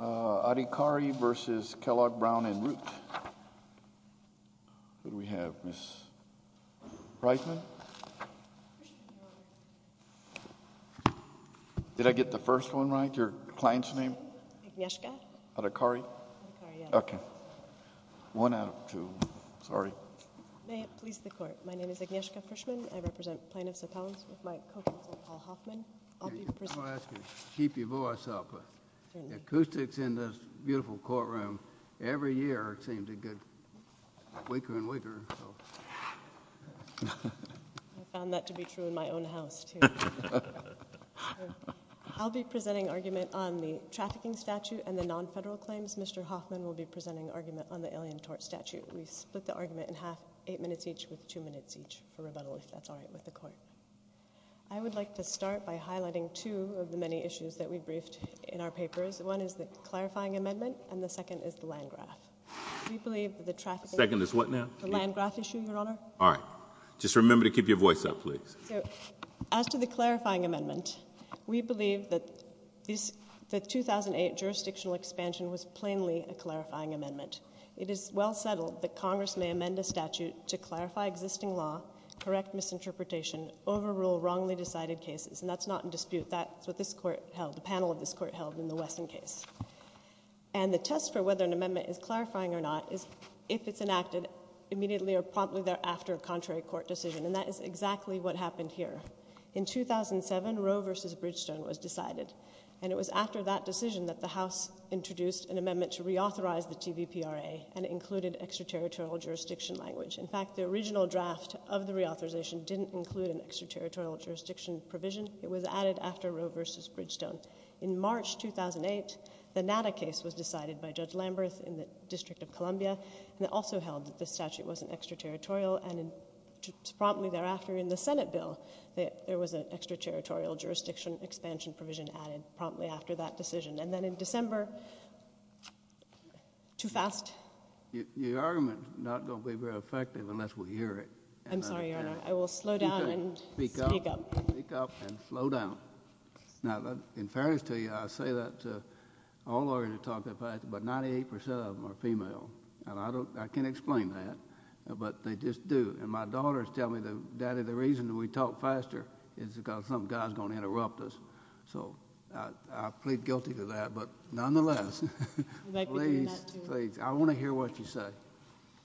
al, and Root, who do we have, Ms. Reitman? Did I get the first one right, your client's name? Agnieszka. Adhikari? Adhikari, yeah. Okay. One out of two. Sorry. May it please the Court. My name is Agnieszka Frischmann. I represent plaintiffs' accounts with my co-counsel, Paul Hoffman. I'll be presenting argument on the trafficking statute and the non-federal claims. Mr. Hoffman will be presenting argument on the alien tort statute. We split the argument in half, eight minutes each, with two minutes each for rebuttal, if that's all right with the Court. I would like to start by highlighting two of the many issues that we briefed in our papers. One is the clarifying amendment, and the second is the land graph. We believe that the trafficking— The second is what now? The land graph issue, your Honor. All right. Just remember to keep your voice up, please. So, as to the clarifying amendment, we believe that the 2008 jurisdictional expansion was well-settled, that Congress may amend a statute to clarify existing law, correct misinterpretation, overrule wrongly decided cases. And that's not in dispute. That's what this Court held—the panel of this Court held in the Wesson case. And the test for whether an amendment is clarifying or not is if it's enacted immediately or promptly thereafter a contrary court decision, and that is exactly what happened here. In 2007, Roe v. Bridgestone was decided, and it was after that decision that the House introduced an amendment to reauthorize the TVPRA and included extraterritorial jurisdiction language. In fact, the original draft of the reauthorization didn't include an extraterritorial jurisdiction provision. It was added after Roe v. Bridgestone. In March 2008, the NADA case was decided by Judge Lamberth in the District of Columbia, and it also held that the statute wasn't extraterritorial, and promptly thereafter in the Senate bill, there was an extraterritorial jurisdiction expansion provision added promptly after that decision. And then in December—too fast? Your argument is not going to be very effective unless we hear it. I'm sorry, Your Honor. I will slow down and speak up. Speak up. Speak up and slow down. Now, in fairness to you, I say that all lawyers talk that fast, but 98 percent of them are female, and I can't explain that, but they just do. And my daughters tell me, Daddy, the reason we talk faster is because some guy is going to come and interrupt us. So I plead guilty to that, but nonetheless— You might be doing that too. Please, please. I want to hear what you say.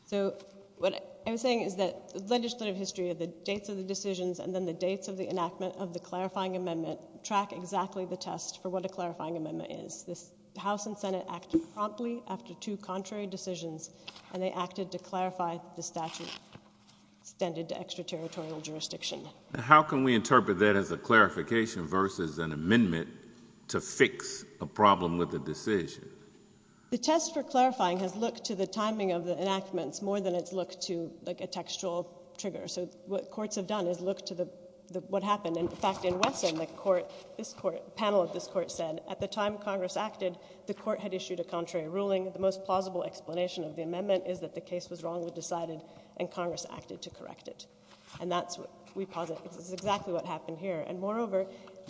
So what I'm saying is that the legislative history of the dates of the decisions and then the dates of the enactment of the clarifying amendment track exactly the test for what a clarifying amendment is. The House and Senate acted promptly after two contrary decisions, and they acted to clarify the statute extended to extraterritorial jurisdiction. How can we interpret that as a clarification versus an amendment to fix a problem with a decision? The test for clarifying has looked to the timing of the enactments more than it's looked to, like, a textual trigger. So what courts have done is looked to what happened. In fact, in Wesson, the panel of this court said, at the time Congress acted, the court had issued a contrary ruling. The most plausible explanation of the amendment is that the case was wrongly decided and Congress acted to correct it. And that's what we posit is exactly what happened here. And moreover,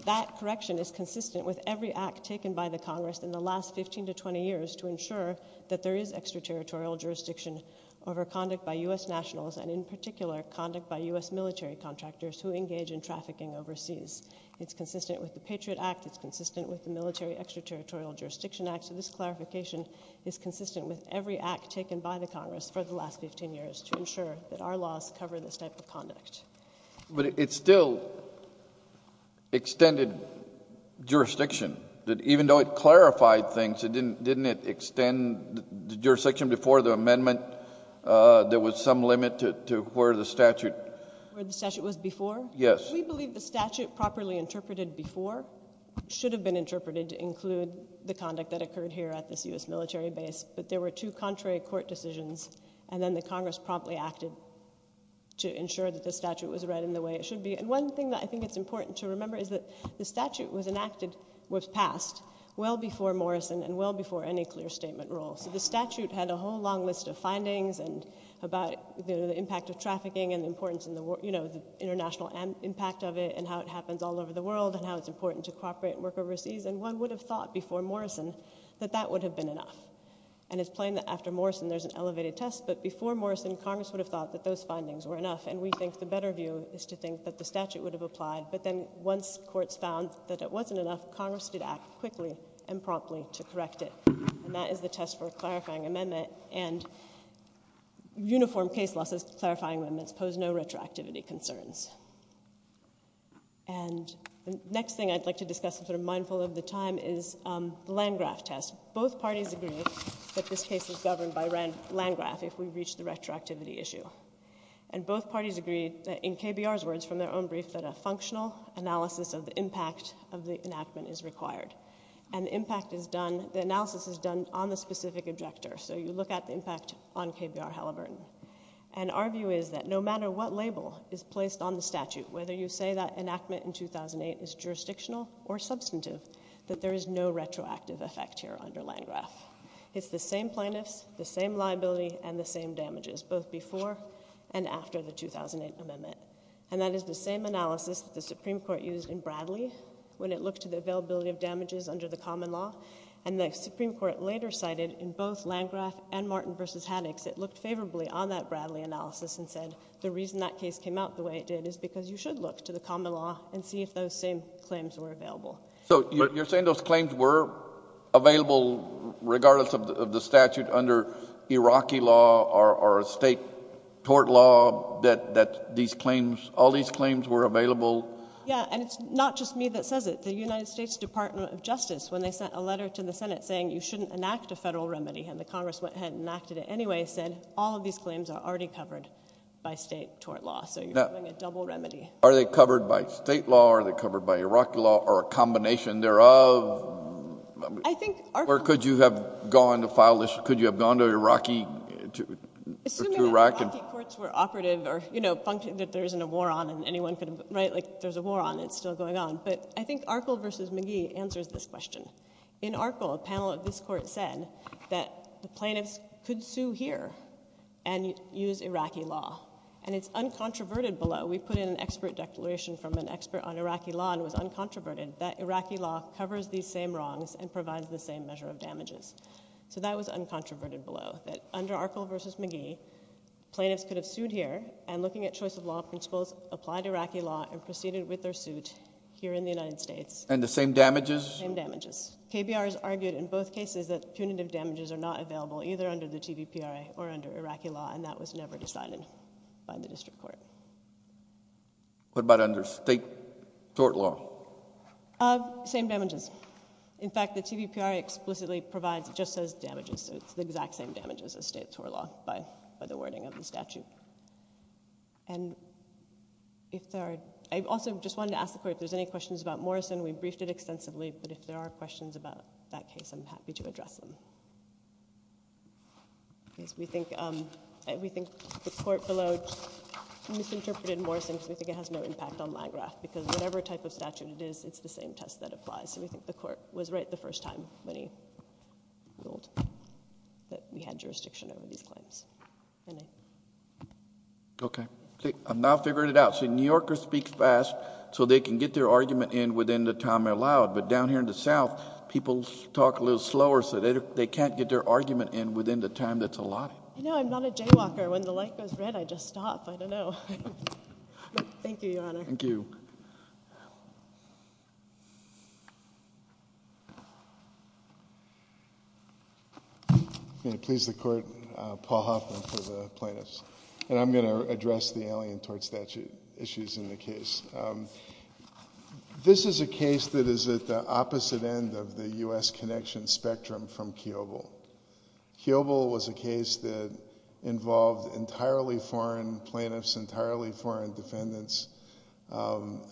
that correction is consistent with every act taken by the Congress in the last 15 to 20 years to ensure that there is extraterritorial jurisdiction over conduct by U.S. nationals and, in particular, conduct by U.S. military contractors who engage in trafficking overseas. It's consistent with the Patriot Act. It's consistent with the Military Extraterritorial Jurisdiction Act. So this clarification is consistent with every act taken by the Congress for the last 15 years to ensure that our laws cover this type of conduct. But it still extended jurisdiction. Even though it clarified things, didn't it extend jurisdiction before the amendment? There was some limit to where the statute... Where the statute was before? Yes. ...the conduct that occurred here at this U.S. military base. But there were two contrary court decisions and then the Congress promptly acted to ensure that the statute was read in the way it should be. And one thing that I think it's important to remember is that the statute was enacted was passed well before Morrison and well before any clear statement rule. So the statute had a whole long list of findings and about the impact of trafficking and the importance in the world, you know, the international impact of it and how it happens all over the world and how it's important to cooperate and work overseas. And one would have thought before Morrison that that would have been enough. And it's plain that after Morrison there's an elevated test. But before Morrison, Congress would have thought that those findings were enough. And we think the better view is to think that the statute would have applied. But then once courts found that it wasn't enough, Congress did act quickly and promptly to correct it. And that is the test for a clarifying amendment. And uniform case law test clarifying amendments pose no retroactivity concerns. And the next thing I'd like to discuss and sort of mindful of the time is the Landgraf test. Both parties agree that this case is governed by Landgraf if we reach the retroactivity issue. And both parties agree in KBR's words from their own brief that a functional analysis of the impact of the enactment is required. And the impact is done, the analysis is done on the specific objector. So you look at the impact on KBR Halliburton. And our view is that no matter what label is placed on the statute, whether you say that enactment in 2008 is jurisdictional or substantive, that there is no retroactive effect here under Landgraf. It's the same plaintiffs, the same liability, and the same damages, both before and after the 2008 amendment. And that is the same analysis that the Supreme Court used in Bradley when it looked at the availability of damages under the common law. And the intercited in both Landgraf and Martin v. Haddix, it looked favorably on that Bradley analysis and said the reason that case came out the way it did is because you should look to the common law and see if those same claims were available. So you're saying those claims were available regardless of the statute under Iraqi law or a state tort law that these claims, all these claims were available? Yeah, and it's not just me that says it. The United States Department of Justice, when they sent a letter to the Senate saying you shouldn't enact a federal remedy, and the Congress went ahead and enacted it anyway, said all of these claims are already covered by state tort law. So you're having a double remedy. Are they covered by state law, are they covered by Iraqi law, or a combination thereof? I think — Or could you have gone to file this — could you have gone to Iraqi — to Iraq and — Assuming that Iraqi courts were operative or, you know, functioned that there isn't a war on and anyone could — right? Like, if there's a war on, it's still going on. But I think Arkell v. McGee answers this question. In Arkell, a panel of this court said that the plaintiffs could sue here and use Iraqi law. And it's uncontroverted below — we put in an expert declaration from an expert on Iraqi law and it was uncontroverted — that Iraqi law covers these same wrongs and provides the same measure of damages. So that was uncontroverted below, that under Arkell v. McGee, plaintiffs could have sued here, and looking at choice of law principles, applied Iraqi law and proceeded with their case in the United States. And the same damages? Same damages. KBR has argued in both cases that punitive damages are not available either under the TVPRA or under Iraqi law, and that was never decided by the district court. What about under state tort law? Same damages. In fact, the TVPRA explicitly provides — just says damages, so it's the exact same damages as state tort law by the wording of the statute. And if there are — I also just wanted to ask the Court if there's any questions about Morrison. We briefed it extensively, but if there are questions about that case, I'm happy to address them. We think the Court below misinterpreted Morrison because we think it has no impact on Magrath because whatever type of statute it is, it's the same test that applies. So we think the Court was right the first time when he ruled that we had jurisdiction over these claims. Okay. I'm now figuring it out. See, New Yorkers speak fast, so they can get their argument in within the time allowed. But down here in the South, people talk a little slower, so they can't get their argument in within the time that's allotted. You know, I'm not a jaywalker. When the light goes red, I just stop. I don't know. Thank you, Your Honor. Thank you. May it please the Court, Paul Hoffman for the plaintiffs. And I'm going to address the Alien Tort Statute issues in the case. This is a case that is at the opposite end of the U.S. connection spectrum from Kiobel. Kiobel was a case that involved entirely foreign plaintiffs, entirely foreign defendants,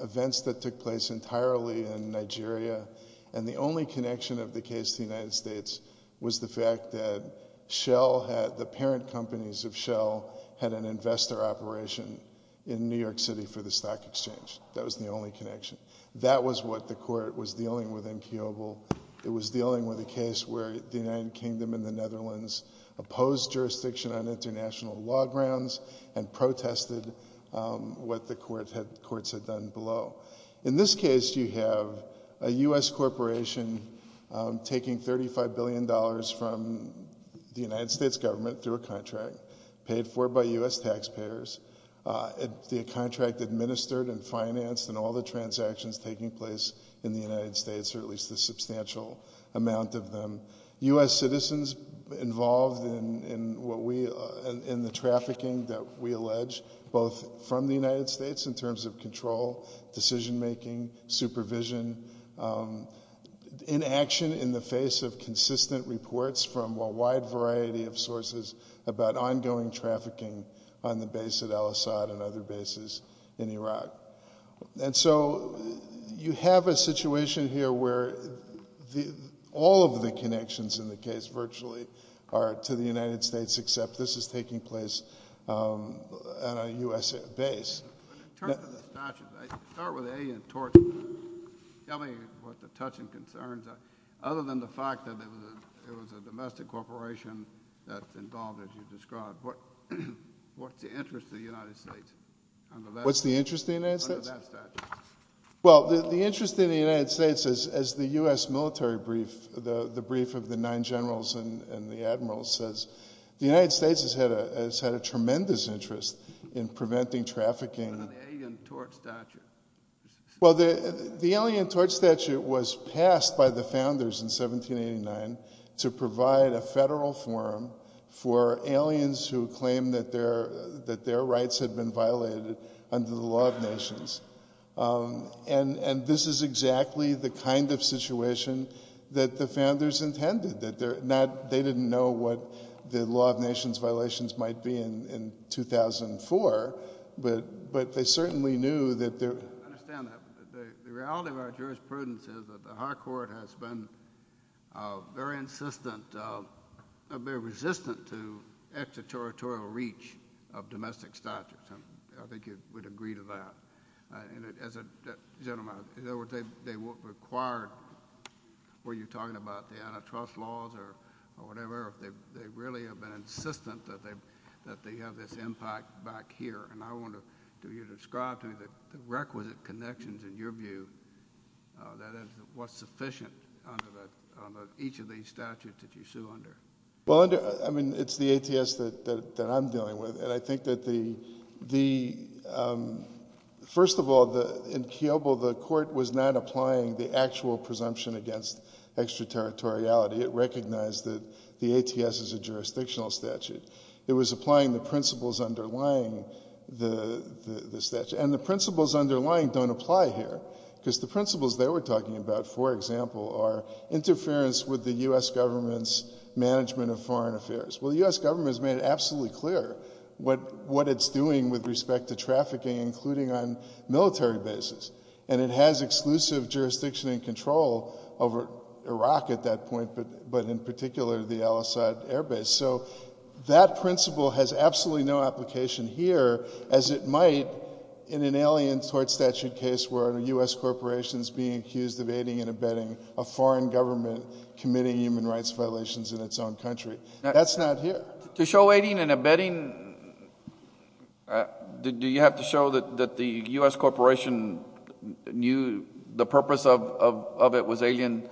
events that took place entirely in Nigeria. And the only connection of the case to the United States was the fact that Shell, the parent companies of Shell, had an investor operation in New York City for the stock exchange. That was the only connection. That was what the Court was dealing with in Kiobel. It was dealing with a case where the United Kingdom and the Netherlands opposed jurisdiction on international law grounds and protested what the courts had done below. In this case, you have a U.S. corporation taking $35 billion from the United States government through a contract paid for by U.S. taxpayers. The contract administered and financed and all the transactions taking place in the United States, or at least a trafficking that we allege, both from the United States in terms of control, decision making, supervision, inaction in the face of consistent reports from a wide variety of sources about ongoing trafficking on the base at al-Assad and other bases in Iraq. And so you have a situation here where all of the connections in the case virtually are to the United States except this is taking place at a U.S. base. In terms of the statute, I start with alien torture. Tell me what the touching concerns are, other than the fact that it was a domestic corporation that's involved, as you described. What's the interest of the United States? What's the interest of the United States? Under that statute. Well, the interest of the United States, as the U.S. military brief, the brief of the admiral says, the United States has had a tremendous interest in preventing trafficking. What about the alien torture statute? Well, the alien torture statute was passed by the founders in 1789 to provide a federal forum for aliens who claim that their rights had been violated under the law of nations. And this is exactly the kind of situation that the founders intended, that they didn't know what the law of nations violations might be in 2004, but they certainly knew that there I understand that, but the reality of our jurisprudence is that the high court has been very resistant to extraterritorial reach of domestic statutes. I think you would agree to that. And as a gentleman, in other words, they required, were you talking about the antitrust laws or whatever, they really have been insistent that they have this impact back here. And I want you to describe to me the requisite connections, in your view, that is what's sufficient under each of these statutes that you sue under. Well, I mean, it's the ATS that I'm dealing with. And I think that the, first of all, in Kiobo, the court was not applying the actual presumption against extraterritoriality. It recognized that the ATS is a jurisdictional statute. It was applying the principles underlying the statute. And the principles underlying don't apply here, because the principles they were talking about, for example, are interference with the U.S. government's management of foreign affairs. Well, the U.S. government has made it absolutely clear what it's doing with respect to trafficking, including on military bases. And it has exclusive jurisdiction and control over Iraq at that point, but in particular the Al-Assad air base. So that principle has absolutely no application here, as it might in an alien tort statute or in a case where a U.S. corporation is being accused of aiding and abetting a foreign government committing human rights violations in its own country. That's not here. To show aiding and abetting, do you have to show that the U.S. corporation knew the purpose of it was alien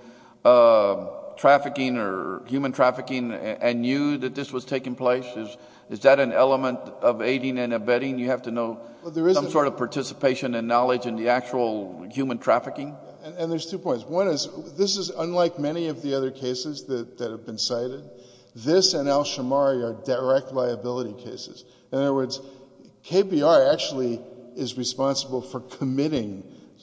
trafficking or human trafficking and knew that this was taking place? Is that an element of aiding and abetting? You have to know some sort of participation and knowledge in the actual human trafficking? And there's two points. One is, this is unlike many of the other cases that have been cited. This and Al-Shamari are direct liability cases. In other words, KBR actually is responsible for committing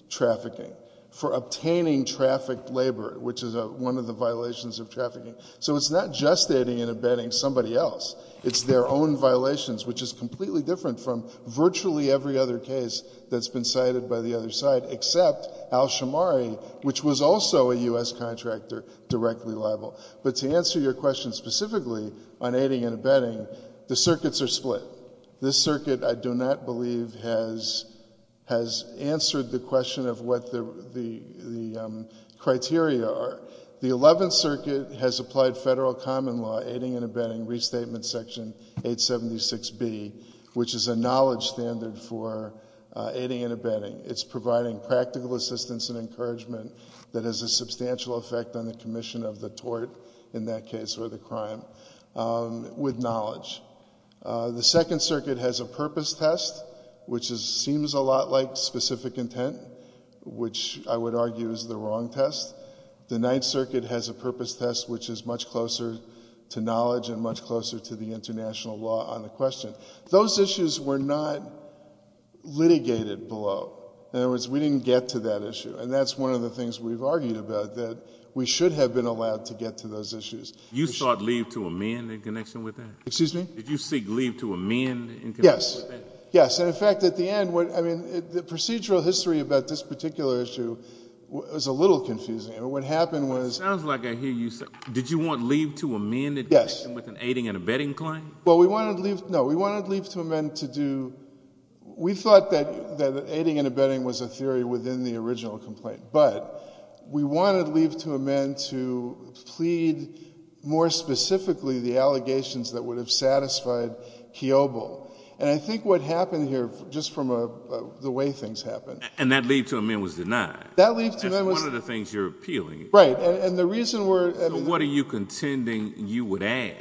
trafficking, for obtaining trafficked labor, which is one of the violations of trafficking. So it's not just aiding and abetting somebody else. It's their own violations, which is completely different from virtually every other case that's been cited by the other side, except Al-Shamari, which was also a U.S. contractor, directly liable. But to answer your question specifically on aiding and abetting, the circuits are split. This circuit, I do not believe, has answered the question of what the criteria are. The Eleventh Circuit has applied federal common law, aiding and abetting, Restatement Section 876B, which is a knowledge standard for aiding and abetting. It's providing practical assistance and encouragement that has a substantial effect on the commission of the tort, in that case, or the crime, with knowledge. The Second Circuit has a purpose test, which seems a lot like specific intent, which I would argue is the wrong test. The Ninth Circuit has a purpose test, which is much closer to knowledge and much closer to the international law on the question. Those issues were not litigated below. In other words, we didn't get to that issue, and that's one of the things we've argued about, that we should have been allowed to get to those issues. You sought leave to a man in connection with that? Excuse me? Did you seek leave to a man in connection with that? Yes, yes. And, in fact, at the end, the procedural history about this particular issue was a little confusing. What happened was— It sounds like I hear you say, did you want leave to a man in connection with an aiding and abetting claim? Well, we wanted leave—no, we wanted leave to a man to do— we thought that aiding and abetting was a theory within the original complaint, but we wanted leave to a man to plead more specifically the allegations that would have satisfied Kiobel. And I think what happened here, just from the way things happened— And that leave to a man was denied. That leave to a man was— That's one of the things you're appealing. Right, and the reason we're— So what are you contending you would add,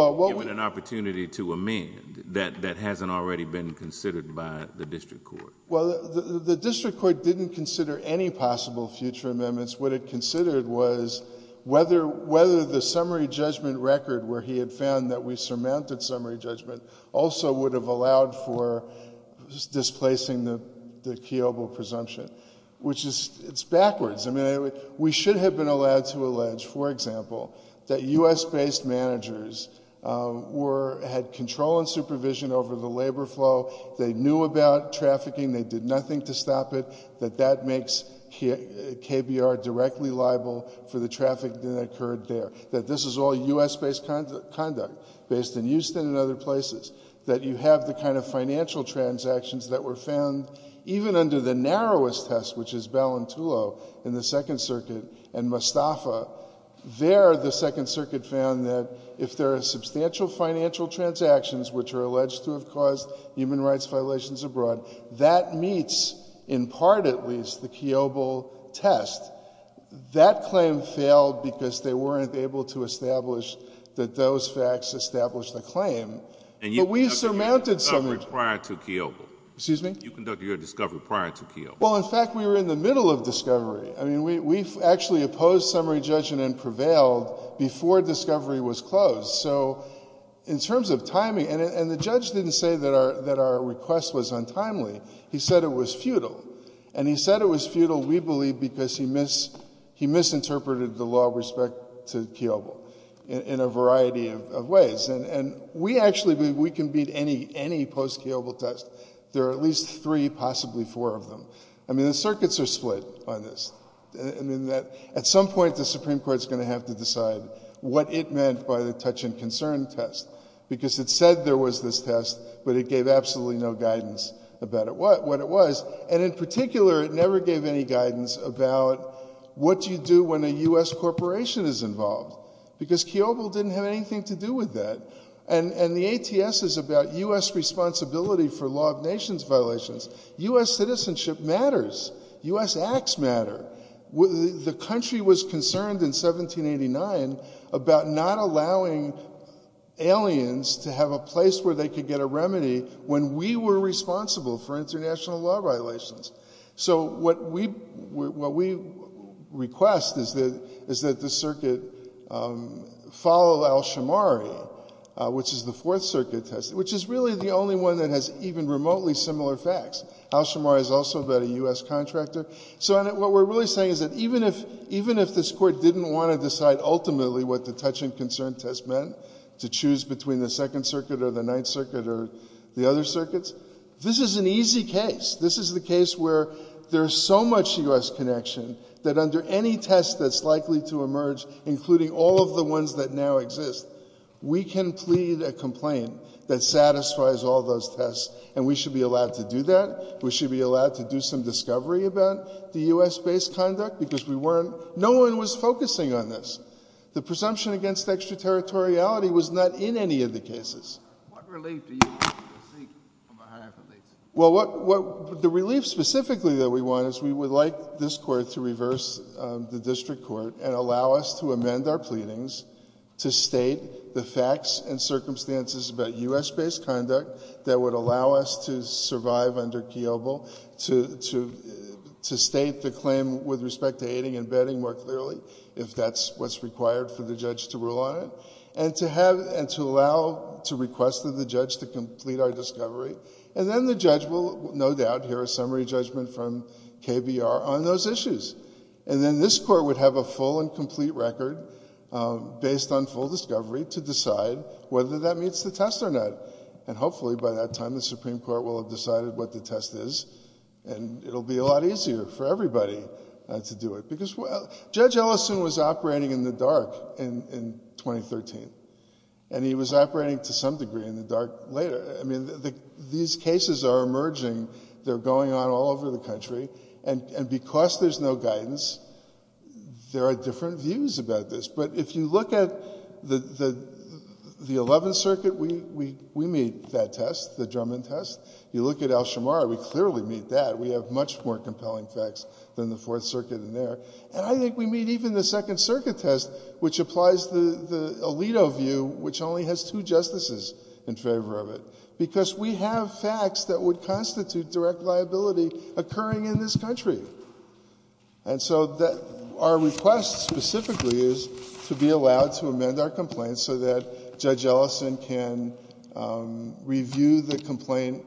given an opportunity to amend that hasn't already been considered by the district court? Well, the district court didn't consider any possible future amendments. What it considered was whether the summary judgment record, where he had found that we surmounted summary judgment, also would have allowed for displacing the Kiobel presumption, which is backwards. I mean, we should have been allowed to allege, for example, that U.S.-based managers had control and supervision over the labor flow. They knew about trafficking. They did nothing to stop it. That that makes KBR directly liable for the traffic that occurred there. That this is all U.S.-based conduct, based in Houston and other places. That you have the kind of financial transactions that were found, even under the narrowest test, which is Balintulo, in the Second Circuit, and Mostafa. There, the Second Circuit found that if there are substantial financial transactions which are alleged to have caused human rights violations abroad, that meets, in part at least, the Kiobel test. That claim failed because they weren't able to establish that those facts established the claim. But we surmounted summary... You conducted your discovery prior to Kiobel. Excuse me? You conducted your discovery prior to Kiobel. Well, in fact, we were in the middle of discovery. I mean, we actually opposed summary judgment and prevailed before discovery was closed. So, in terms of timing... And the judge didn't say that our request was untimely. He said it was futile. And he said it was futile, we believe, because he misinterpreted the law with respect to Kiobel in a variety of ways. And we actually believe we can beat any post-Kiobel test. There are at least three, possibly four of them. I mean, the circuits are split on this. At some point, the Supreme Court is going to have to decide what it meant by the touch-and-concern test. Because it said there was this test, but it gave absolutely no guidance about what it was. And, in particular, it never gave any guidance about what you do when a U.S. corporation is involved. Because Kiobel didn't have anything to do with that. And the ATS is about U.S. responsibility for law of nations violations. U.S. citizenship matters. U.S. acts matter. The country was concerned in 1789 about not allowing aliens to have a place where they could get a remedy when we were responsible for international law violations. So what we request is that the circuit follow Alshamari, which is the Fourth Circuit test, which is really the only one that has even remotely similar facts. Alshamari is also about a U.S. contractor. So what we're really saying is that even if this Court didn't want to decide ultimately what the touch-and-concern test meant, to choose between the Second Circuit or the Ninth Circuit or the other circuits, this is an easy case. This is the case where there's so much U.S. connection that under any test that's likely to emerge, including all of the ones that now exist, we can plead a complaint that satisfies all those tests. And we should be allowed to do that. We didn't want the U.S.-based conduct because we weren't – no one was focusing on this. The presumption against extraterritoriality was not in any of the cases. What relief do you seek from a higher police? Well, the relief specifically that we want is we would like this Court to reverse the district court and allow us to amend our pleadings to state the facts and circumstances about U.S.-based conduct that would allow us to survive under Kiobel, to state the claim with respect to aiding and abetting more clearly, if that's what's required for the judge to rule on it, and to allow – to request of the judge to complete our discovery. And then the judge will no doubt hear a summary judgment from KBR on those issues. And then this Court would have a full and complete record based on full discovery to decide whether that meets the test or not. And hopefully by that time the Supreme Court will have decided what the test is, and it'll be a lot easier for everybody to do it. Because Judge Ellison was operating in the dark in 2013, and he was operating to some degree in the dark later. I mean, these cases are emerging. They're going on all over the country. And because there's no guidance, there are different views about this. But if you look at the Eleventh Circuit, we meet that test, the Drummond test. You look at Al-Shamar, we clearly meet that. We have much more compelling facts than the Fourth Circuit in there. And I think we meet even the Second Circuit test, which applies the Alito view, which only has two justices in favor of it. Because we have facts that would constitute direct liability occurring in this country. And so our request specifically is to be allowed to amend our complaint so that Judge Ellison can review the complaint,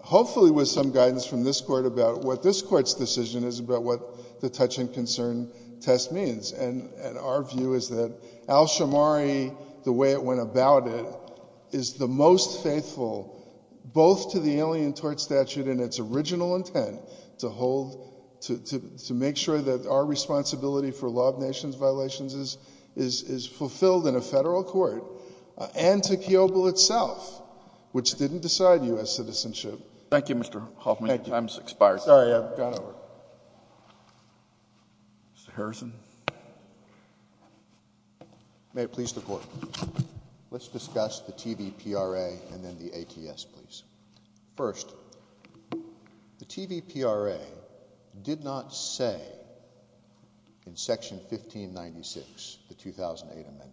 hopefully with some guidance from this Court about what this Court's decision is about what the touch and concern test means. And our view is that Al-Shamari, the way it went about it, is the most faithful both to the Alien Tort Statute and its original intent to make sure that our responsibility for law of nations violations is fulfilled in a federal court and to Kiobel itself, which didn't decide U.S. citizenship. Thank you, Mr. Hoffman. Your time has expired. Sorry, I've gone over. Mr. Harrison. May it please the Court. Let's discuss the TVPRA and then the ATS, please. First, the TVPRA did not say in Section 1596, the 2008 Amendment,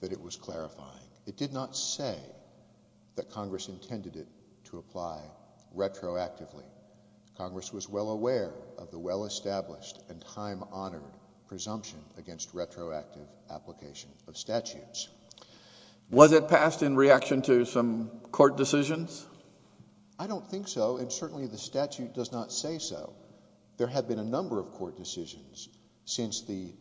that it was clarifying. It did not say that Congress intended it to apply retroactively. Congress was well aware of the well-established and time-honored presumption against retroactive application of statutes. Was it passed in reaction to some court decisions? I don't think so, and certainly the statute does not say so. There have been a number of court decisions since the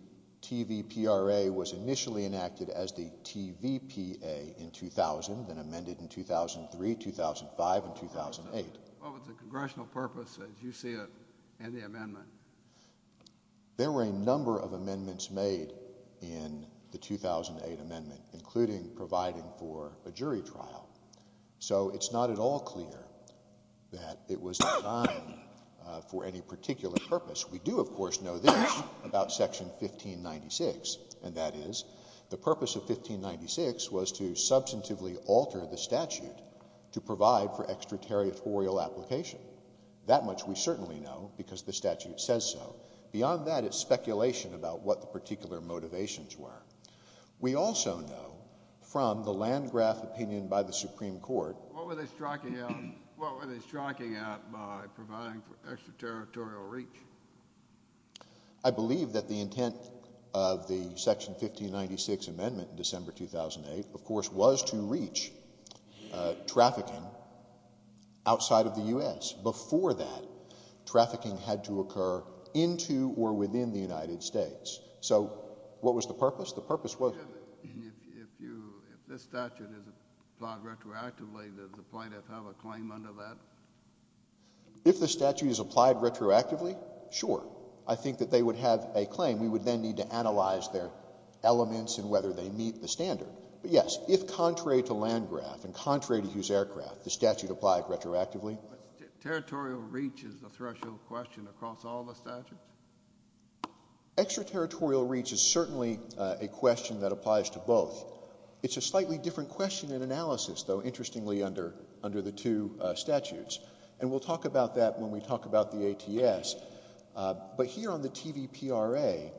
TVPRA was initially enacted as the TVPA in 2000 and amended in 2003, 2005, and 2008. What was the congressional purpose, as you see it, in the amendment? There were a number of amendments made in the 2008 Amendment, including providing for a jury trial. So it's not at all clear that it was designed for any particular purpose. We do, of course, know this about Section 1596, and that is the purpose of 1596 was to substantively alter the statute to provide for extraterritorial application. That much we certainly know, because the statute says so. Beyond that, it's speculation about what the particular motivations were. We also know from the Landgraf opinion by the Supreme Court What were they striking at by providing for extraterritorial reach? I believe that the intent of the Section 1596 Amendment in December 2008, of course, was to reach trafficking outside of the U.S. Before that, trafficking had to occur into or within the United States. So what was the purpose? The purpose was... If this statute is applied retroactively, does the plaintiff have a claim under that? If the statute is applied retroactively, sure. I think that they would have a claim. We would then need to analyze their elements and whether they meet the standard. But, yes, if contrary to Landgraf and contrary to Hughes-Aircraft, the statute applied retroactively... Territorial reach is the threshold question across all the statutes? Extraterritorial reach is certainly a question that applies to both. It's a slightly different question in analysis, though, interestingly, under the two statutes. And we'll talk about that when we talk about the ATS. But here on the TVPRA,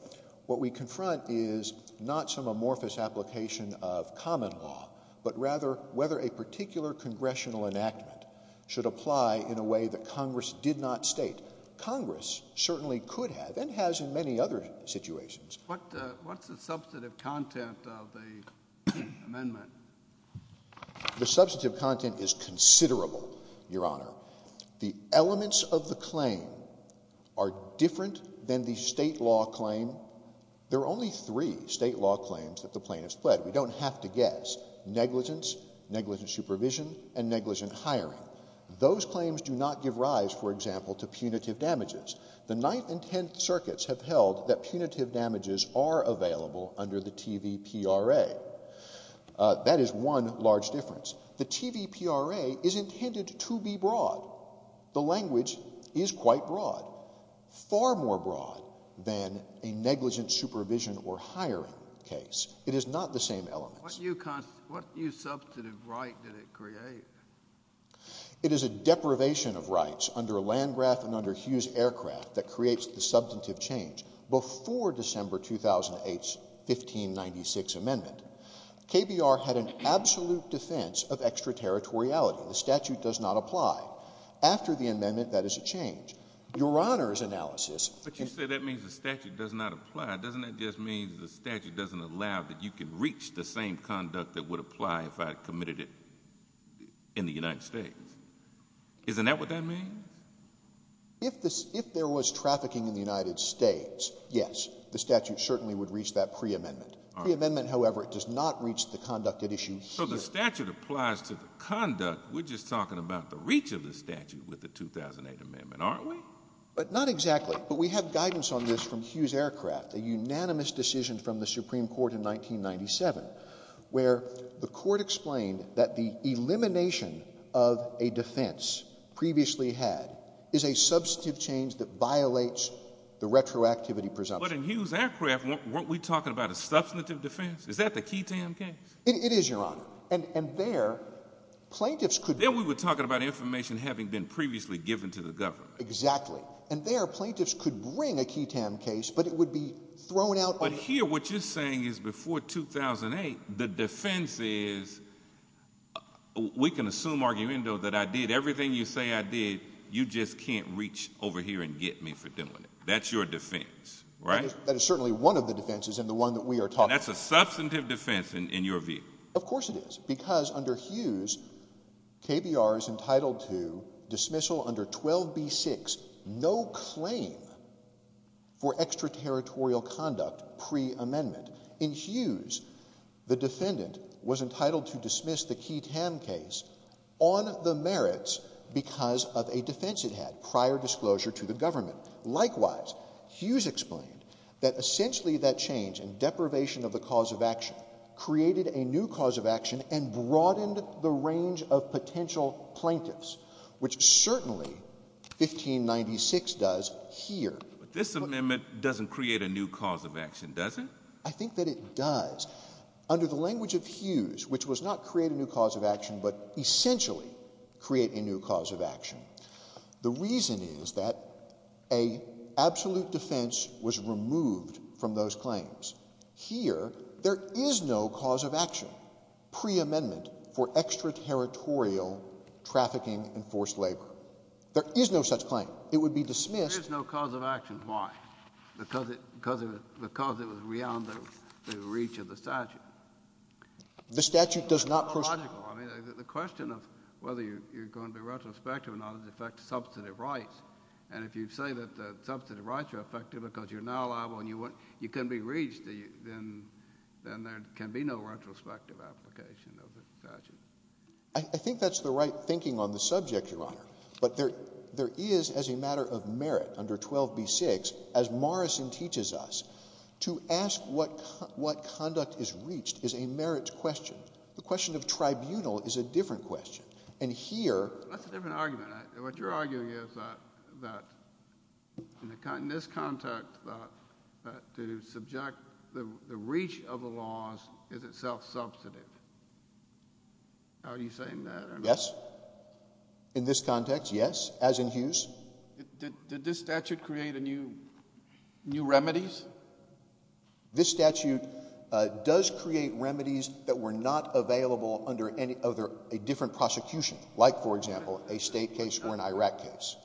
what we confront is not some amorphous application of common law, but rather whether a particular congressional enactment should apply in a way that Congress did not state. Congress certainly could have and has in many other situations. What's the substantive content of the amendment? The substantive content is considerable, Your Honor. The elements of the claim are different than the state law claim. There are only three state law claims that the plaintiff has pled. We don't have to guess. Negligence, negligent supervision, and negligent hiring. Those claims do not give rise, for example, to punitive damages. The Ninth and Tenth Circuits have held that punitive damages are available under the TVPRA. That is one large difference. The TVPRA is intended to be broad. The language is quite broad, far more broad than a negligent supervision or hiring case. It is not the same elements. What new substantive right did it create? It is a deprivation of rights under Landgraf and under Hughes Aircraft that creates the substantive change before December 2008's 1596 amendment. KBR had an absolute defense of extraterritoriality. The statute does not apply. After the amendment, that is a change. Your Honor's analysis — But you said that means the statute does not apply. Doesn't that just mean the statute doesn't allow that you can reach the same conduct that would apply if I committed it in the United States? Isn't that what that means? If there was trafficking in the United States, yes, the statute certainly would reach that preamendment. Preamendment, however, does not reach the conduct at issue here. So the statute applies to the conduct. We're just talking about the reach of the statute with the 2008 amendment, aren't we? But not exactly. But we have guidance on this from Hughes Aircraft, a unanimous decision from the Supreme Court in 1997, where the court explained that the elimination of a defense previously had is a substantive change that violates the retroactivity presumption. But in Hughes Aircraft, weren't we talking about a substantive defense? Is that the Keaton case? It is, Your Honor. And there, plaintiffs could — Then we were talking about information having been previously given to the government. Exactly. And there, plaintiffs could bring a Keaton case, but it would be thrown out — But here, what you're saying is before 2008, the defense is — we can assume argument, though, that I did everything you say I did. You just can't reach over here and get me for doing it. That's your defense, right? That is certainly one of the defenses and the one that we are talking about. That's a substantive defense in your view. Of course it is, because under Hughes, KBR is entitled to dismissal under 12b-6, no claim for extraterritorial conduct preamendment. In Hughes, the defendant was entitled to dismiss the Keaton case on the merits because of a defense it had, prior disclosure to the government. Likewise, Hughes explained that essentially that change in deprivation of the cause of action created a new cause of action and broadened the range of potential plaintiffs, which certainly 1596 does here. But this amendment doesn't create a new cause of action, does it? I think that it does. Under the language of Hughes, which was not create a new cause of action, but essentially create a new cause of action. The reason is that an absolute defense was removed from those claims. Here, there is no cause of action preamendment for extraterritorial trafficking and forced labor. There is no such claim. It would be dismissed. There is no cause of action. Why? Because it was beyond the reach of the statute. The statute does not proceed. It's illogical. The question of whether you're going to be retrospective or not is in effect substantive rights. And if you say that the substantive rights are effective because you're not liable and you can be reached, then there can be no retrospective application of the statute. I think that's the right thinking on the subject, Your Honor. But there is, as a matter of merit under 12b-6, as Morrison teaches us, to ask what conduct is reached is a merits question. The question of tribunal is a different question. And here— That's a different argument. What you're arguing is that in this context, that to subject the reach of the laws is itself substantive. Are you saying that or not? Yes. In this context, yes, as in Hughes. Did this statute create new remedies? This statute does create remedies that were not available under a different prosecution, like, for example, a state case or an Iraq case.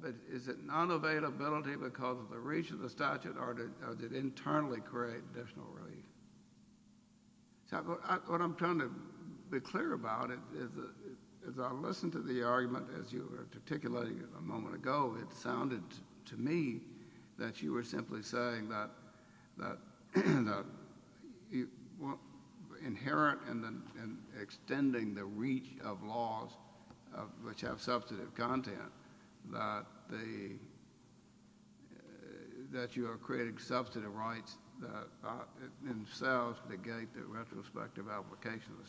But is it non-availability because of the reach of the statute or did it internally create additional relief? What I'm trying to be clear about is I listened to the argument as you were articulating it a moment ago. It sounded to me that you were simply saying that inherent in extending the reach of laws which have substantive content, that you are creating substantive rights that themselves negate the retrospective application of the statute.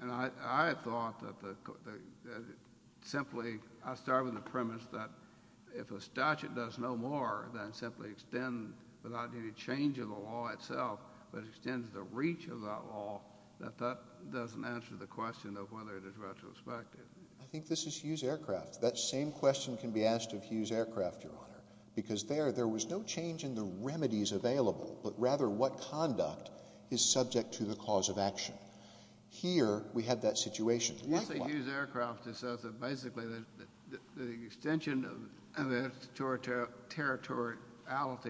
And I thought that simply—I started with the premise that if a statute does no more than simply extend without any change of the law itself, but extends the reach of that law, that that doesn't answer the question of whether it is retrospective. I think this is Hughes Aircraft. That same question can be asked of Hughes Aircraft, Your Honor. Because there, there was no change in the remedies available, but rather what conduct is subject to the cause of action. Here, we have that situation. You say Hughes Aircraft is such that basically the extension of its territoriality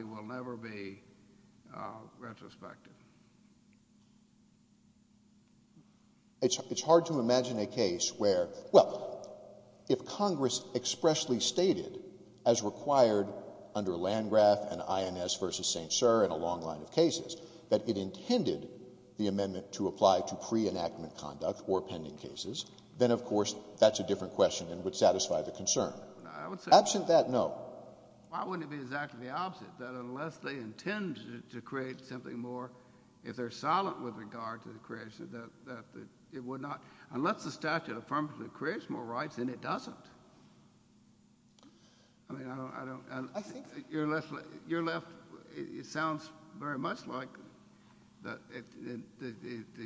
will never be retrospective. It's hard to imagine a case where—well, if Congress expressly stated as required under Landgraf and INS v. St. Cyr in a long line of cases that it intended the amendment to apply to pre-enactment conduct or pending cases, then of course that's a different question and would satisfy the concern. Absent that, no. Why wouldn't it be exactly the opposite, that unless they intend to create something more, if they're silent with regard to the creation, that it would not—unless the statute affirmatively creates more rights, then it doesn't. I mean, I don't— I think— Your left—it sounds very much like the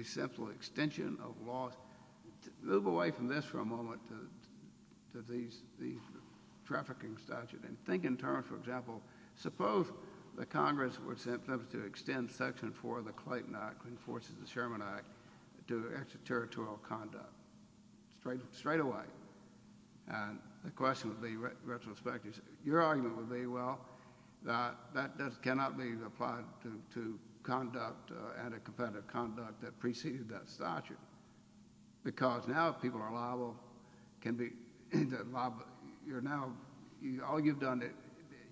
simple extension of laws. Move away from this for a moment to these trafficking statutes and think in terms, for example, suppose that Congress were to extend Section 4 of the Clayton Act, which enforces the Sherman Act, to extraterritorial conduct. Straight away. And the question would be retrospective. Your argument would be, well, that that cannot be applied to conduct, anti-competitive conduct that preceded that statute. Because now if people are liable, can be—you're now—all you've done,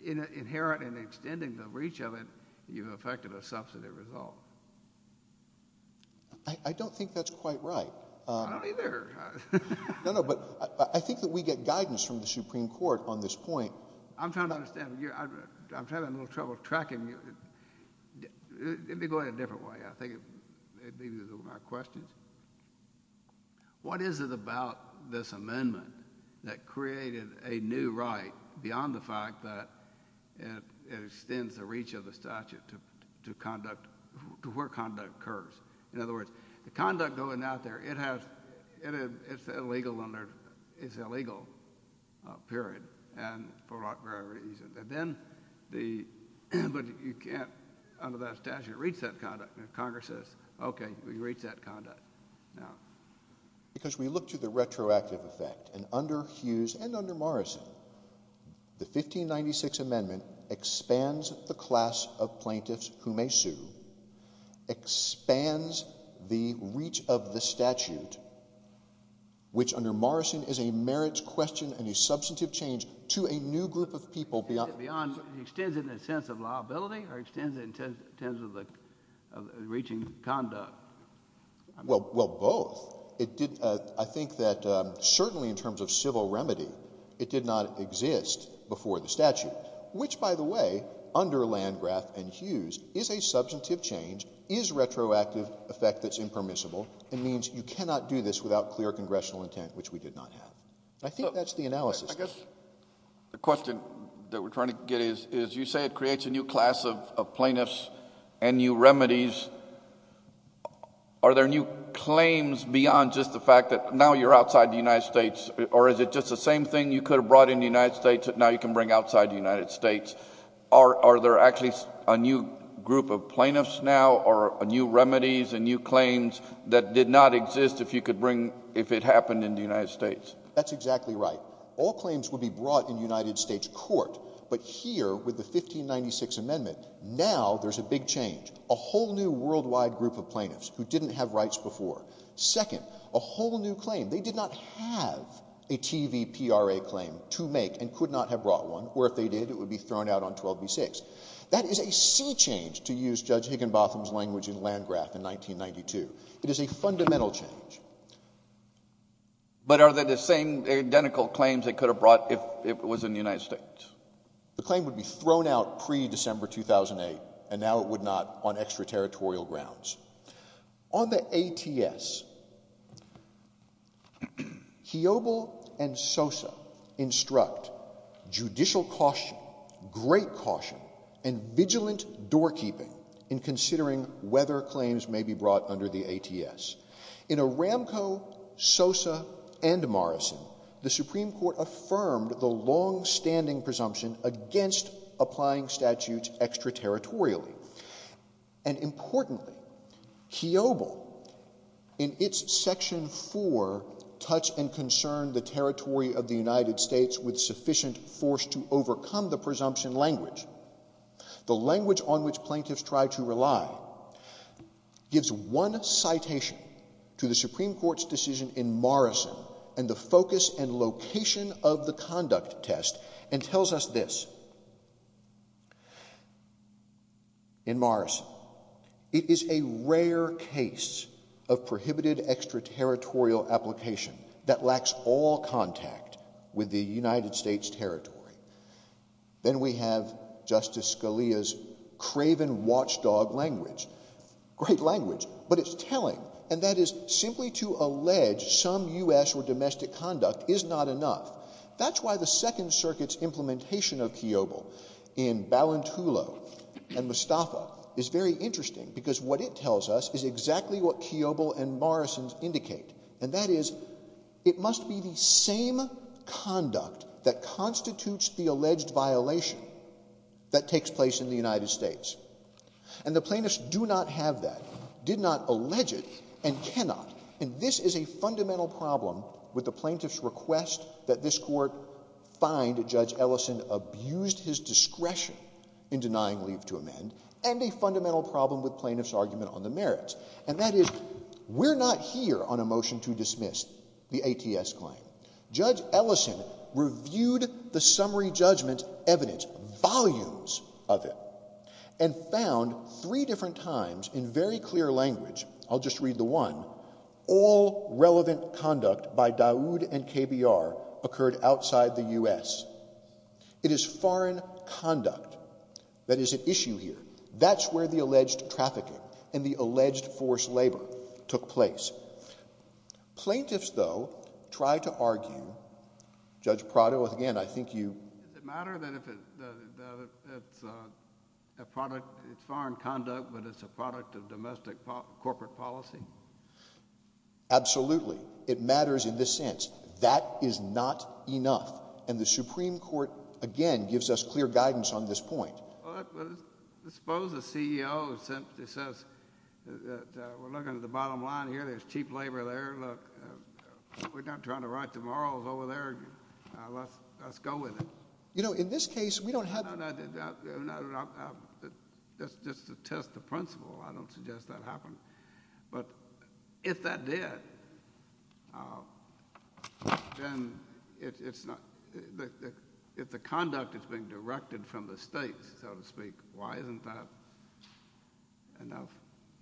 inherent in extending the reach of it, you've affected a substantive result. I don't think that's quite right. I don't either. No, no. But I think that we get guidance from the Supreme Court on this point. I'm trying to understand. I'm having a little trouble tracking you. Let me go at it a different way. I think it may be that those are my questions. What is it about this amendment that created a new right beyond the fact that it extends the reach of the statute to conduct—to where conduct occurs? In other words, the conduct going out there, it has—it's illegal under—it's illegal, period, and for whatever reason. And then the—but you can't, under that statute, reach that conduct. Congress says, OK, we've reached that conduct now. Because we look to the retroactive effect, and under Hughes and under Morrison, the 1596 Amendment expands the class of plaintiffs who may sue, expands the reach of the statute, which under Morrison is a merits question and a substantive change to a new group of people beyond— Extends it beyond—extends it in the sense of liability or extends it in terms of the reaching conduct? Well, both. It did—I think that certainly in terms of civil remedy, it did not exist before the statute, which, by the way, under Landgraf and Hughes is a substantive change, is retroactive effect that's impermissible. It means you cannot do this without clear congressional intent, which we did not have. I think that's the analysis. The question that we're trying to get is, you say it creates a new class of plaintiffs and new remedies. Are there new claims beyond just the fact that now you're outside the United States, or is it just the same thing you could have brought in the United States that now you can bring outside the United States? Are there actually a new group of plaintiffs now or new remedies and new claims that did not exist if you could bring—if it happened in the United States? That's exactly right. All claims would be brought in United States court, but here with the 1596 Amendment, now there's a big change, a whole new worldwide group of plaintiffs who didn't have rights before. Second, a whole new claim. They did not have a TVPRA claim to make and could not have brought one, or if they did, it would be thrown out on 12b-6. That is a sea change, to use Judge Higginbotham's language in Landgraf in 1992. It is a fundamental change. But are they the same identical claims they could have brought if it was in the United States? The claim would be thrown out pre-December 2008, and now it would not on extraterritorial grounds. On the ATS, Heobel and Sosa instruct judicial caution, great caution, and vigilant doorkeeping in considering whether claims may be brought under the ATS. In Aramco, Sosa, and Morrison, the Supreme Court affirmed the longstanding presumption against applying statutes extraterritorially. And importantly, Heobel, in its Section 4, touched and concerned the territory of the United States with sufficient force to overcome the presumption language. The language on which plaintiffs try to rely gives one citation to the Supreme Court's decision in Morrison and the focus and location of the conduct test and tells us this. In Morrison, it is a rare case of prohibited extraterritorial application that lacks all contact with the United States territory. Then we have Justice Scalia's craven watchdog language. Great language, but it's telling, and that is simply to allege some U.S. or domestic conduct is not enough. That's why the Second Circuit's implementation of Heobel in Ballantulo and Mustafa is very interesting because what it tells us is exactly what Heobel and Morrison indicate. And that is it must be the same conduct that constitutes the alleged violation that takes place in the United States. And the plaintiffs do not have that, did not allege it, and cannot. And this is a fundamental problem with the plaintiffs' request that this Court find Judge Ellison abused his discretion in denying leave to amend and a fundamental problem with plaintiffs' argument on the merits. And that is we're not here on a motion to dismiss the ATS claim. Judge Ellison reviewed the summary judgment evidence, volumes of it, and found three different times in very clear language, I'll just read the one, all relevant conduct by Dawood and KBR occurred outside the U.S. It is foreign conduct that is at issue here. That's where the alleged trafficking and the alleged forced labor took place. Plaintiffs, though, try to argue, Judge Prado, again, I think you— Does it matter that it's foreign conduct but it's a product of domestic corporate policy? Absolutely. It matters in this sense. That is not enough. And the Supreme Court, again, gives us clear guidance on this point. Well, suppose the CEO says, we're looking at the bottom line here. There's cheap labor there. Look, we're not trying to write the morals over there. Let's go with it. You know, in this case, we don't have— That's just to test the principle. I don't suggest that happened. But if that did, then it's not—if the conduct is being directed from the states, so to speak, why isn't that enough?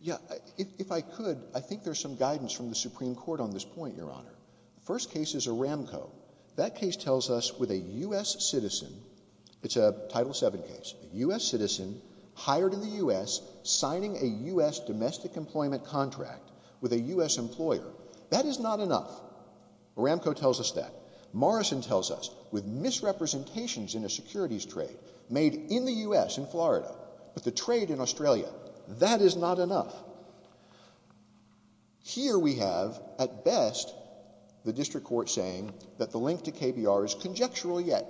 Yeah. If I could, I think there's some guidance from the Supreme Court on this point, Your Honor. The first case is Aramco. That case tells us with a U.S. citizen—it's a Title VII case—a U.S. citizen hired in the U.S. signing a U.S. domestic employment contract with a U.S. employer, that is not enough. Aramco tells us that. Morrison tells us, with misrepresentations in a securities trade made in the U.S. in Florida, but the trade in Australia, that is not enough. Here we have, at best, the district court saying that the link to KBR is conjectural yet.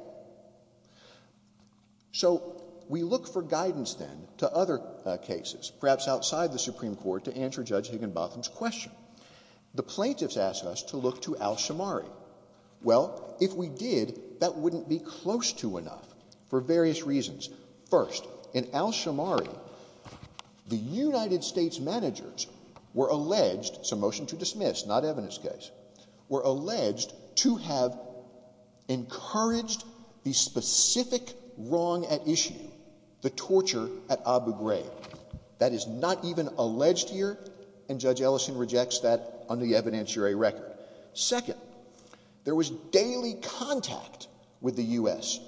So we look for guidance then to other cases, perhaps outside the Supreme Court, to answer Judge Higginbotham's question. The plaintiffs ask us to look to Al-Shamari. Well, if we did, that wouldn't be close to enough for various reasons. First, in Al-Shamari, the United States managers were alleged—it's a motion to dismiss, not evidence case— were alleged to have encouraged the specific wrong at issue, the torture at Abu Ghraib. That is not even alleged here, and Judge Ellison rejects that on the evidentiary record. Second, there was daily contact with the U.S.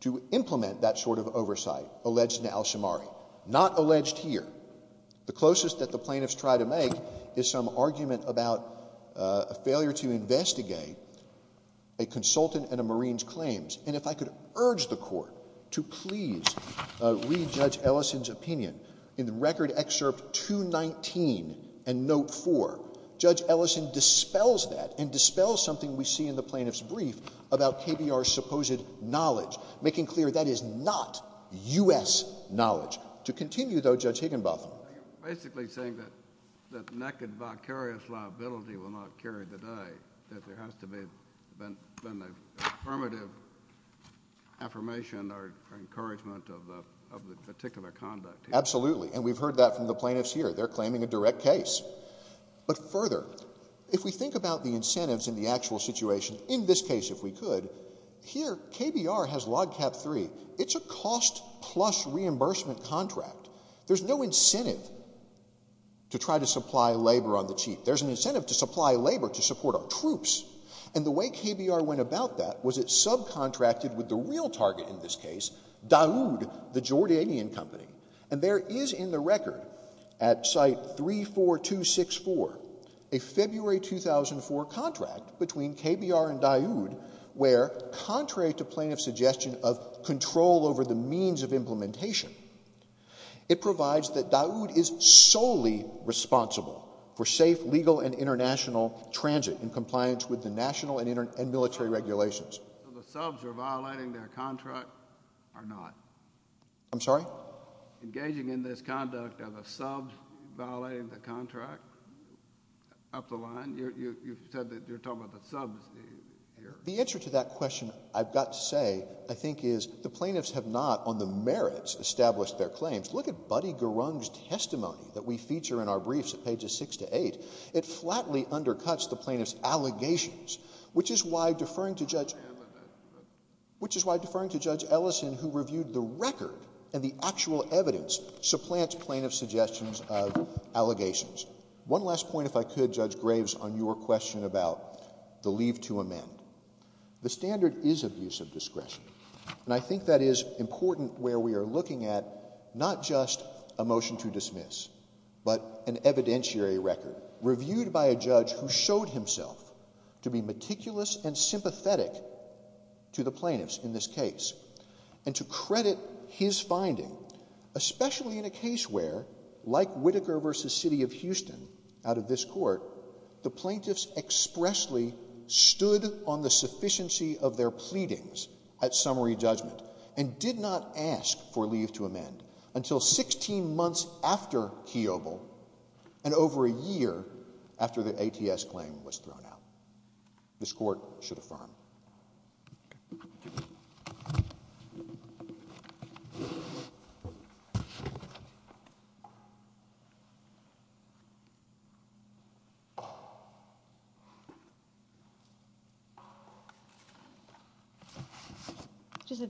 to implement that sort of oversight, alleged in Al-Shamari. Not alleged here. The closest that the plaintiffs try to make is some argument about a failure to investigate a consultant and a Marine's claims. And if I could urge the court to please read Judge Ellison's opinion. In the record excerpt 219 and note 4, Judge Ellison dispels that and dispels something we see in the plaintiff's brief about KBR's supposed knowledge, making clear that is not U.S. knowledge. To continue, though, Judge Higginbotham. You're basically saying that naked, vicarious liability will not carry the day. That there has to have been an affirmative affirmation or encouragement of the particular conduct. Absolutely. And we've heard that from the plaintiffs here. They're claiming a direct case. But further, if we think about the incentives in the actual situation, in this case if we could, here KBR has Log Cap 3. It's a cost plus reimbursement contract. There's no incentive to try to supply labor on the cheap. There's an incentive to supply labor to support our troops. And the way KBR went about that was it subcontracted with the real target in this case, Daoud, the Jordanian company. And there is in the record at site 34264 a February 2004 contract between KBR and Daoud where, contrary to plaintiff's suggestion of control over the means of implementation, it provides that Daoud is solely responsible for safe legal and international transit in compliance with the national and military regulations. So the subs are violating their contract or not? I'm sorry? Engaging in this conduct are the subs violating the contract up the line? You said that you're talking about the subs here. The answer to that question, I've got to say, I think is the plaintiffs have not on the merits established their claims. Look at Buddy Garung's testimony that we feature in our briefs at pages 6 to 8. It flatly undercuts the plaintiff's allegations, which is why deferring to Judge Ellison, who reviewed the record and the actual evidence, supplants plaintiff's suggestions of allegations. One last point, if I could, Judge Graves, on your question about the leave to amend. The standard is abuse of discretion. And I think that is important where we are looking at not just a motion to dismiss, but an evidentiary record reviewed by a judge who showed himself to be meticulous and sympathetic to the plaintiffs in this case. And to credit his finding, especially in a case where, like Whittaker v. City of Houston, out of this court, the plaintiffs expressly stood on the sufficiency of their pleadings at summary judgment and did not ask for leave to amend until 16 months after Keoghle and over a year after the ATS claim was thrown out. This court should affirm. Just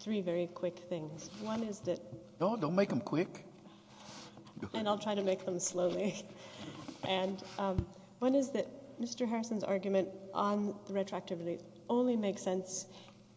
three very quick things. One is that— No, don't make them quick. And I'll try to make them slowly. And one is that Mr. Harrison's argument on the retroactivity only makes sense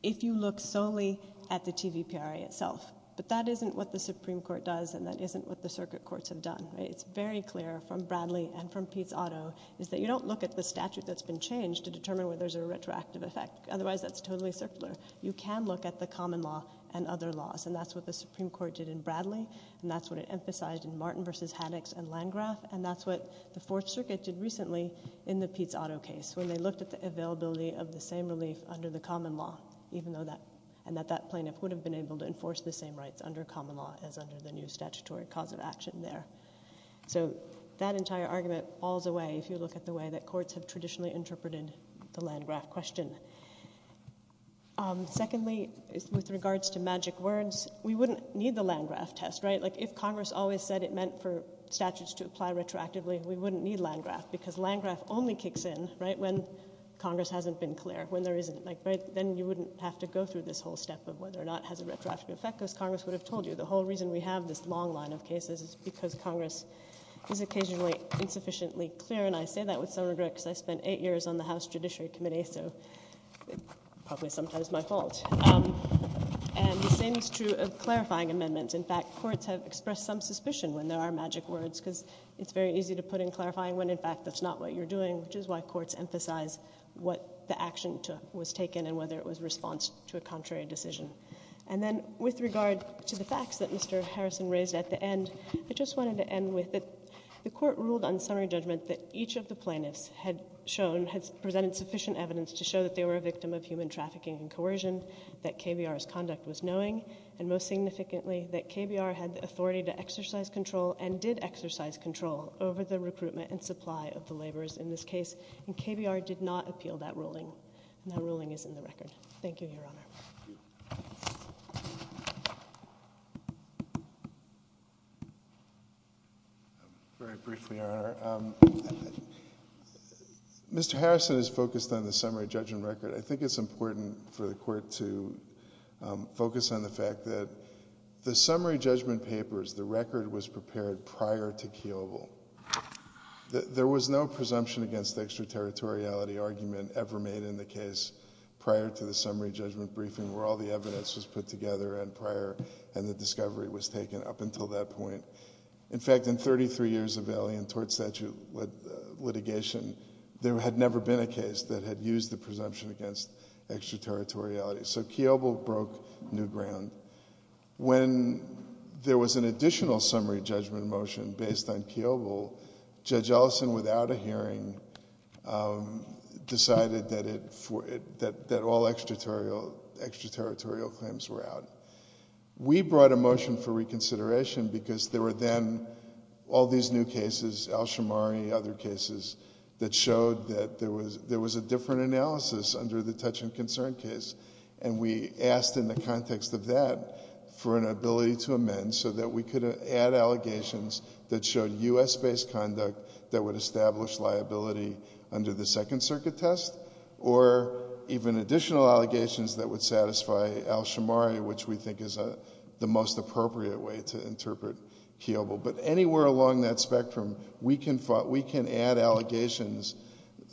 if you look solely at the TVPRA itself. But that isn't what the Supreme Court does, and that isn't what the circuit courts have done. It's very clear from Bradley and from Pete's auto is that you don't look at the statute that's been changed to determine whether there's a retroactive effect. Otherwise, that's totally circular. You can look at the common law and other laws, and that's what the Supreme Court did in Bradley, and that's what it emphasized in Martin v. Haddix and Landgraf, and that's what the Fourth Circuit did recently in the Pete's auto case when they looked at the availability of the same relief under the common law, and that that plaintiff would have been able to enforce the same rights under common law as under the new statutory cause of action there. So that entire argument falls away if you look at the way that courts have traditionally interpreted the Landgraf question. Secondly, with regards to magic words, we wouldn't need the Landgraf test, right? If Congress always said it meant for statutes to apply retroactively, we wouldn't need Landgraf because Landgraf only kicks in when Congress hasn't been clear, when there isn't. Then you wouldn't have to go through this whole step of whether or not it has a retroactive effect because Congress would have told you. The whole reason we have this long line of cases is because Congress is occasionally insufficiently clear, and I say that with some regret because I spent eight years on the House Judiciary Committee, so it's probably sometimes my fault. And the same is true of clarifying amendments. In fact, courts have expressed some suspicion when there are magic words because it's very easy to put in clarifying when, in fact, that's not what you're doing, which is why courts emphasize what the action was taken and whether it was a response to a contrary decision. And then with regard to the facts that Mr. Harrison raised at the end, I just wanted to end with that the court ruled on summary judgment that each of the plaintiffs had shown, had presented sufficient evidence to show that they were a victim of human trafficking and coercion, that KBR's conduct was knowing, and most significantly that KBR had the authority to exercise control and did exercise control over the recruitment and supply of the laborers in this case, and KBR did not appeal that ruling, and that ruling is in the record. Thank you, Your Honor. Very briefly, Your Honor, Mr. Harrison has focused on the summary judgment record. I think it's important for the court to focus on the fact that the summary judgment papers, the record was prepared prior to Kiobel. There was no presumption against extraterritoriality argument ever made in the case prior to the summary judgment briefing where all the evidence was put together and prior and the discovery was taken up until that point. In fact, in 33 years of alien tort statute litigation, there had never been a case that had used the presumption against extraterritoriality. So Kiobel broke new ground. When there was an additional summary judgment motion based on Kiobel, Judge Ellison, without a hearing, decided that all extraterritorial claims were out. We brought a motion for reconsideration because there were then all these new cases, Alshamari, other cases, that showed that there was a different analysis under the Touch and Concern case, and we asked in the context of that for an ability to amend so that we could add allegations that showed U.S.-based conduct that would establish liability under the Second Circuit test or even additional allegations that would satisfy Alshamari, which we think is the most appropriate way to interpret Kiobel. But anywhere along that spectrum, we can add allegations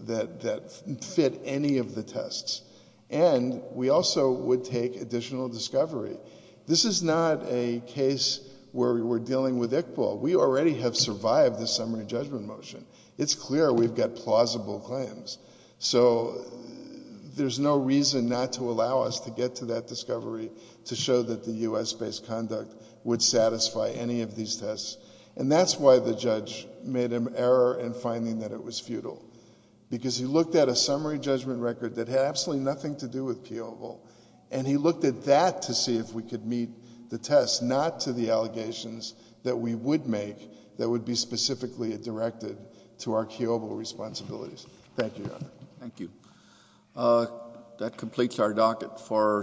that fit any of the tests. And we also would take additional discovery. This is not a case where we're dealing with Iqbal. We already have survived the summary judgment motion. It's clear we've got plausible claims. So there's no reason not to allow us to get to that discovery to show that the U.S.-based conduct would satisfy any of these tests. And that's why the judge made an error in finding that it was futile, because he looked at a summary judgment record that had absolutely nothing to do with Kiobel, and he looked at that to see if we could meet the test, not to the allegations that we would make that would be specifically directed to our Kiobel responsibilities. Thank you, Your Honor. Thank you. That completes our docket for today.